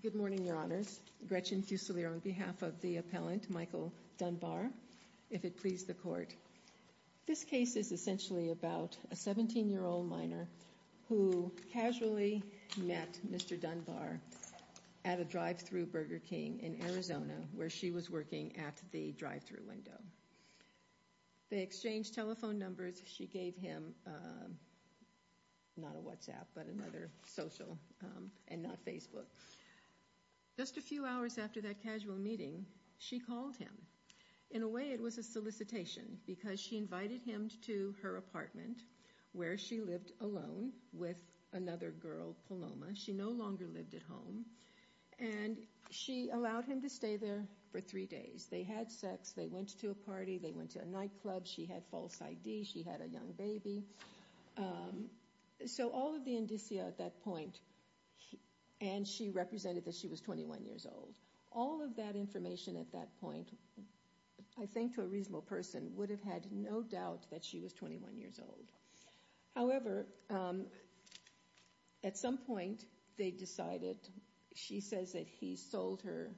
Good morning, your honors. Gretchen Fusilier on behalf of the appellant Michael Dunbar, if it please the court. This case is essentially about a 17-year-old minor who casually met Mr. Dunbar at a drive-thru Burger King in Arizona where she was working at the drive-thru window. They exchanged telephone numbers. She gave him not a WhatsApp, but another social and not Facebook. Just a few hours after that casual meeting, she called him. In a way, it was a solicitation because she invited him to her apartment where she lived alone with another girl, Paloma. She no longer lived at home and she allowed him to stay there for three days. They had sex. They went to a party. They went to a nightclub. She had false ID. She had a young baby. So all of the indicia at that point, and she represented that she was 21 years old, all of that information at that point, I think to a reasonable person, would have had no doubt that she was 21 years old. However, at some point, they decided, she says that he sold her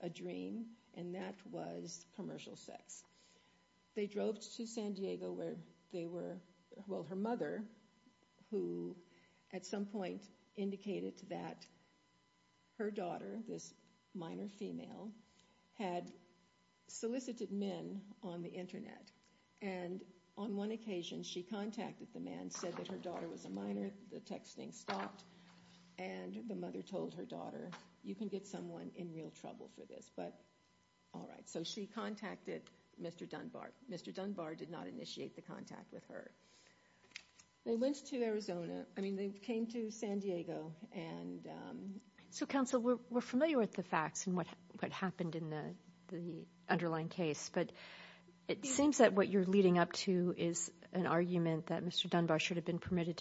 a dream and that was commercial sex. They drove to San Diego where they were, well, her mother, who at some point indicated that her daughter, this minor female, had solicited men on the internet. On one occasion, she contacted the men and said that her daughter was a minor. The texting stopped and the mother told her daughter, you can get someone in real trouble for this, but all right. So she contacted Mr. Dunbar. Mr. Dunbar did not initiate the contact with her. They went to Arizona. I mean, they came to San Diego. So counsel, we're familiar with the facts and what happened in the underlying case, but it seems that what you're leading up to is an argument that Mr. Dunbar should have been permitted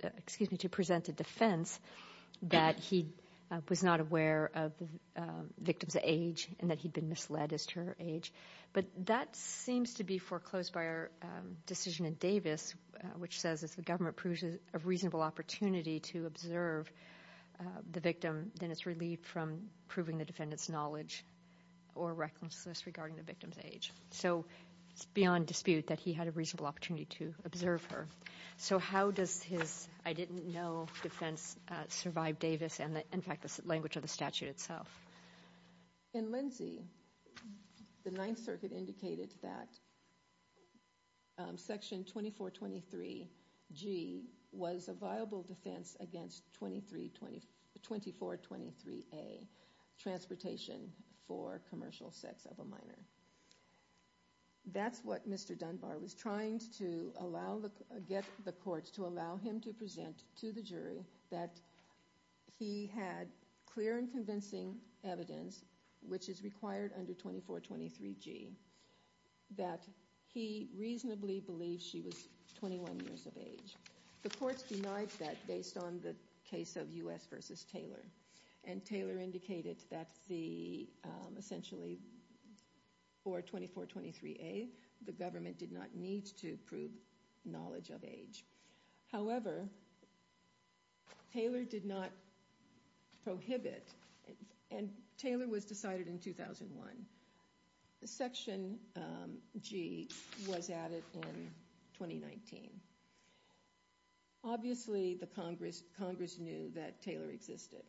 to present a defense that he was not aware of the victim's age and that he'd been misled as to her age. But that seems to be foreclosed by our decision in Davis, which says if the government proves a reasonable opportunity to observe the victim, then it's relieved from proving the defendant's knowledge or recklessness regarding the victim's age. So it's beyond dispute that he had a reasonable opportunity to observe her. So how does his I-didn't-know defense survive Davis and, in fact, the language of the statute itself? In Lindsay, the Ninth Circuit indicated that Section 2423G was a viable defense against 2423A, transportation for commercial sex of a minor. That's what Mr. Dunbar was trying to get the courts to allow him to present to the jury that he had clear and convincing evidence, which is required under 2423G, that he reasonably believed she was 21 years of age. The courts denied that based on the case of U.S. v. Taylor, and Taylor indicated that essentially for 2423A, the government did not need to prove knowledge of age. However, Taylor did not prohibit, and Taylor was decided in 2001. Section G was added in 2019. Obviously, Congress knew that Taylor existed.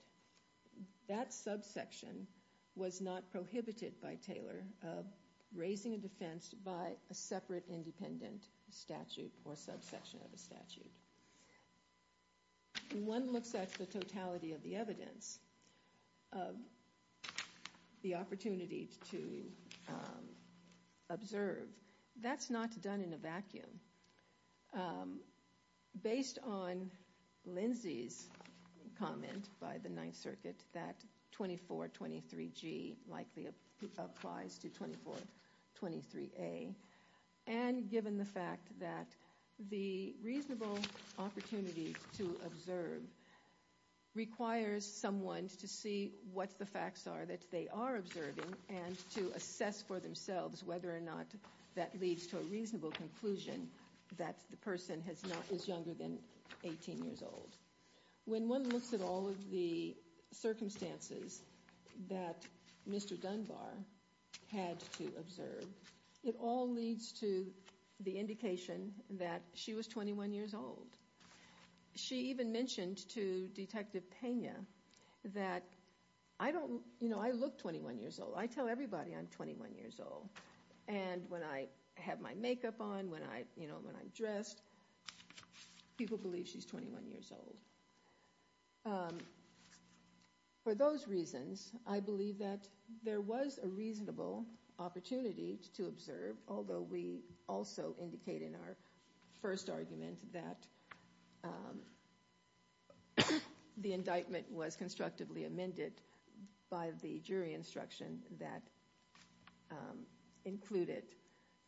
That subsection was not prohibited by Taylor of raising a defense by a separate independent statute or subsection of a statute. When one looks at the totality of the evidence, the opportunity to observe, that's not done in a vacuum. Based on Lindsay's comment by the Ninth Circuit that 2423G likely applies to 2423A, and given the fact that the reasonable opportunity to observe requires someone to see what the facts are that they are observing, and to assess for themselves whether or not that leads to a reasonable conclusion that the person is younger than 18 years old. When one looks at all of the circumstances that Mr. Dunbar had to observe, it all leads to the indication that she was 21 years old. She even mentioned to Detective Pena that, you know, I look 21 years old. I tell everybody I'm 21 years old, and when I have my makeup on, when I'm dressed, people believe she's 21 years old. For those reasons, I believe that there was a reasonable opportunity to observe, although we also indicate in our first argument that the indictment was constructively amended by the jury instruction that included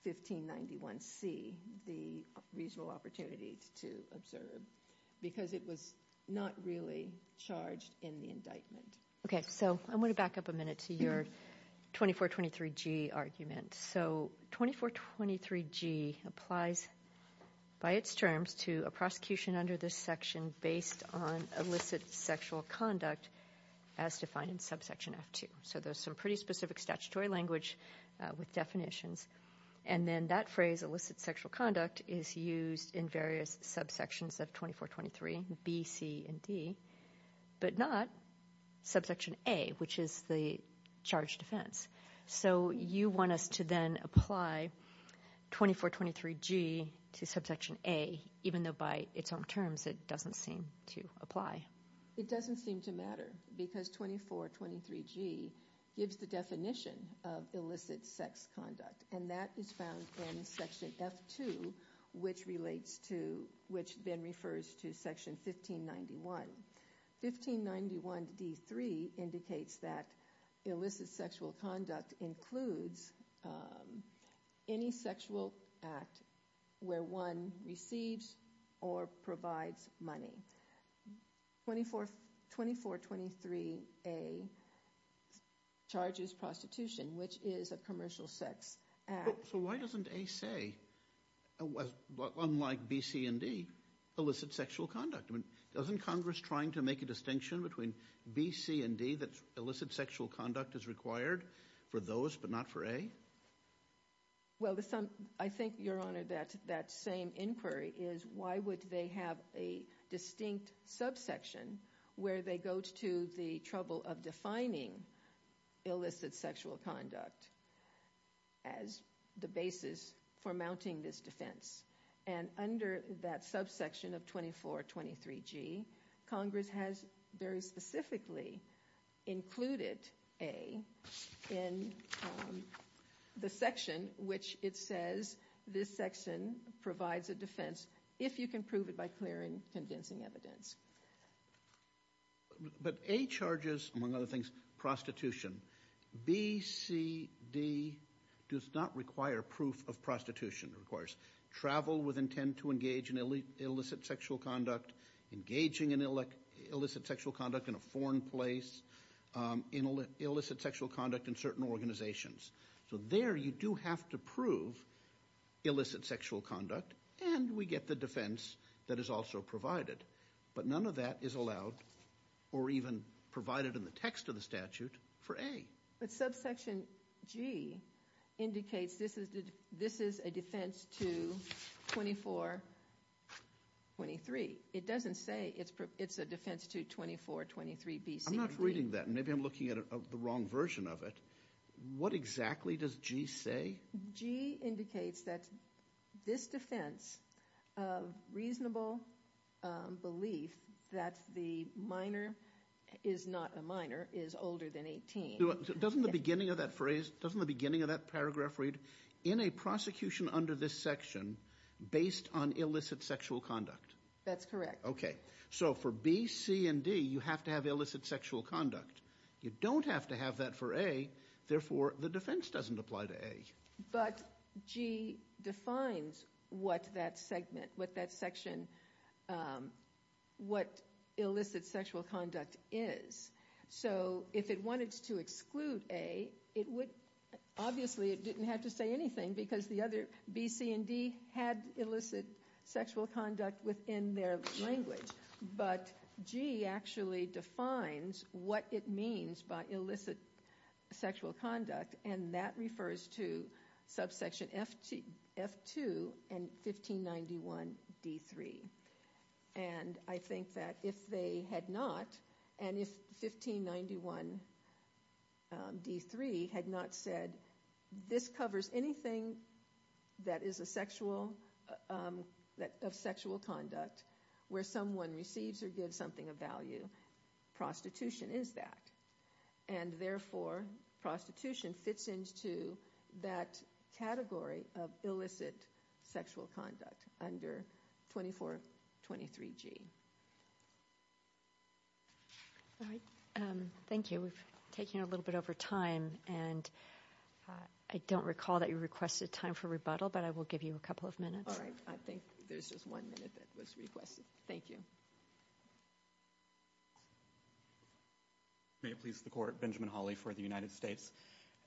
1591C, the reasonable opportunity to observe, because it was not really charged in the indictment. Okay, so I want to back up a minute to your 2423G argument. So 2423G applies by its terms to a prosecution under this section based on illicit sexual conduct as defined in subsection F2. So there's some pretty specific statutory language with definitions, and then that phrase, illicit sexual conduct, is used in various subsections of 2423, B, C, and D, but not subsection A, which is the charge defense. So you want us to then apply 2423G to subsection A, even though by its own terms it doesn't seem to apply? It doesn't seem to matter, because 2423G gives the definition of illicit sex conduct, and that is found in section F2, which then refers to section 1591. 1591D3 indicates that illicit sexual conduct includes any sexual act where one receives or provides money. 2423A charges prostitution, which is a commercial sex act. So why doesn't A say, unlike B, C, and D, illicit sexual conduct? I mean, doesn't Congress trying to make a distinction between B, C, and D, that illicit sexual conduct is required for those, but not for A? Well, I think, Your Honor, that that same inquiry is why would they have a distinct subsection where they go to the trouble of defining illicit sexual conduct as the basis for mounting this defense? And under that subsection of 2423G, Congress has very specifically included A in the section which it says this section provides a defense, if you can prove it by clearing, condensing evidence. But A charges, among other things, prostitution. B, C, D does not require proof of prostitution. It requires travel with intent to engage in illicit sexual conduct, engaging in illicit sexual conduct in a foreign place, illicit sexual conduct in certain organizations. So there you do have to prove illicit sexual conduct, and we get the defense that is also provided. But none of that is allowed, or even provided in the text of the statute, for A. But subsection G indicates this is a defense to 2423. It doesn't say it's a defense to 2423B, C, or D. I'm not reading that. Maybe I'm looking at the wrong version of it. What exactly does G say? G indicates that this defense of reasonable belief that the minor is not a minor is older than 18. Doesn't the beginning of that phrase, doesn't the beginning of that paragraph read, in a prosecution under this section, based on illicit sexual conduct? That's correct. Okay. So for B, C, and D, you have to have illicit sexual conduct. You don't have to have that for A. Therefore, the defense doesn't apply to A. But G defines what that segment, what that section, what illicit sexual conduct is. So if it wanted to exclude A, it would, obviously it didn't have to say anything because the other, B, C, and D, had illicit sexual conduct within their language. But G actually defines what it means by illicit sexual conduct, and that refers to subsection F2 and 1591D3. And I think that if they had not, and if 1591D3 had not said, this covers anything that is a sexual, that of sexual conduct, where someone receives or gives something of value, prostitution is that. And therefore, prostitution fits into that category of illicit sexual conduct under 2423G. All right. Thank you. We've taken a little bit over time, and I don't recall that you requested time for rebuttal, but I will give you a couple of minutes. All right. I think there's just one minute that was requested. Thank you. May it please the court, Benjamin Hawley for the United States.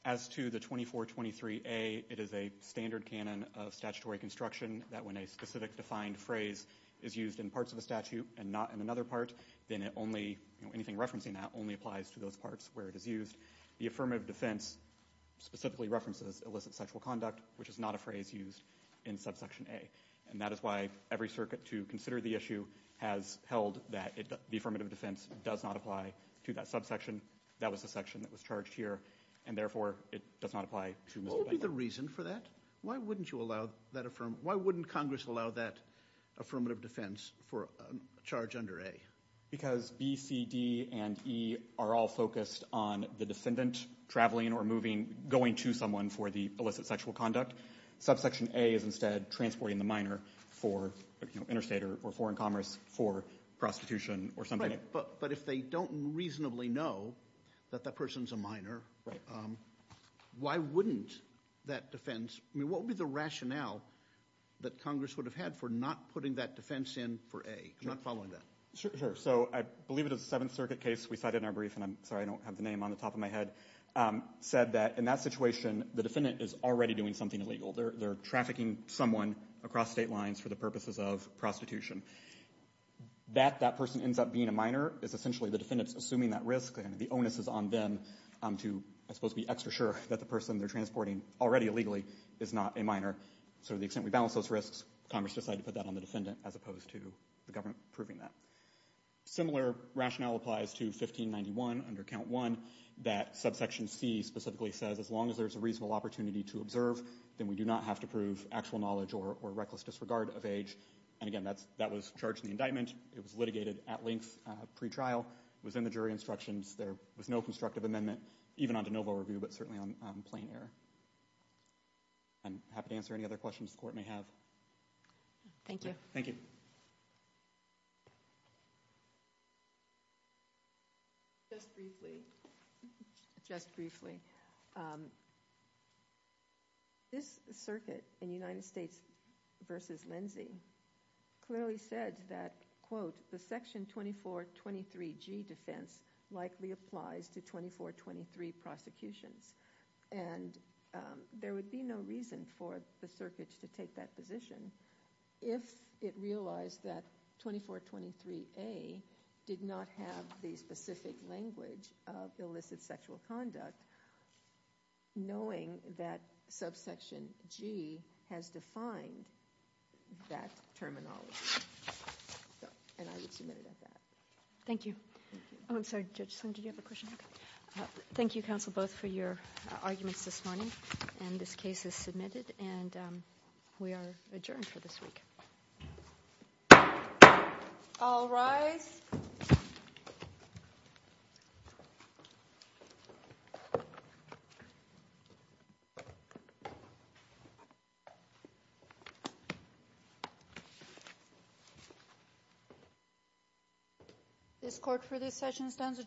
As to the 2423A, it is a standard canon of statutory construction that when a specific defined phrase is used in parts of a statute and not in another part, then it only, anything referencing that only applies to those parts where it is used. The affirmative defense specifically references illicit sexual conduct, which is not a phrase used in subsection A. And that is why every circuit to consider the issue has held that the affirmative defense does not apply to that subsection. That was the section that was charged here, and therefore, it does not apply to Mr. Benjamin. What would be the reason for that? Why wouldn't you allow that affirmative, why wouldn't Congress allow that affirmative defense for a charge under A? Because B, C, D, and E are all focused on the defendant traveling or moving, going to someone for the conduct. Subsection A is instead transporting the minor for interstate or foreign commerce for prostitution or something. But if they don't reasonably know that that person's a minor, why wouldn't that defense, I mean, what would be the rationale that Congress would have had for not putting that defense in for A? I'm not following that. Sure. So I believe it is a Seventh Circuit case. We cited in our brief, and I'm sorry, I don't have the name on the top of my head, said that in that situation, the defendant is already doing something illegal. They're trafficking someone across state lines for the purposes of prostitution. That that person ends up being a minor is essentially the defendant's assuming that risk, and the onus is on them to, I suppose, be extra sure that the person they're transporting already illegally is not a minor. So to the extent we balance those risks, Congress decided to put that on the defendant as opposed to the government approving that. Similar rationale applies to 1591 under Count 1 that subsection C specifically says, as long as there's a reasonable opportunity to observe, then we do not have to prove actual knowledge or reckless disregard of age. And again, that was charged in the indictment. It was litigated at length pre-trial. It was in the jury instructions. There was no constructive amendment, even on de novo review, but certainly on plain error. I'm happy to answer any other questions the Court may have. Thank you. Thank you. Just briefly. Just briefly. This circuit in United States versus Lindsay clearly said that, quote, the section 2423G defense likely applies to 2423 prosecutions, and there would be no reason for the circuit to take that position if it realized that 2423A did not have the specific language of illicit sexual conduct, knowing that subsection G has defined that terminology. And I would submit it at that. Thank you. Oh, I'm sorry, Judge, did you have a question? Thank you, counsel, both for your arguments this morning. And this case is submitted and we are adjourned for this week. All rise. Thank you. This court for this session stands adjourned.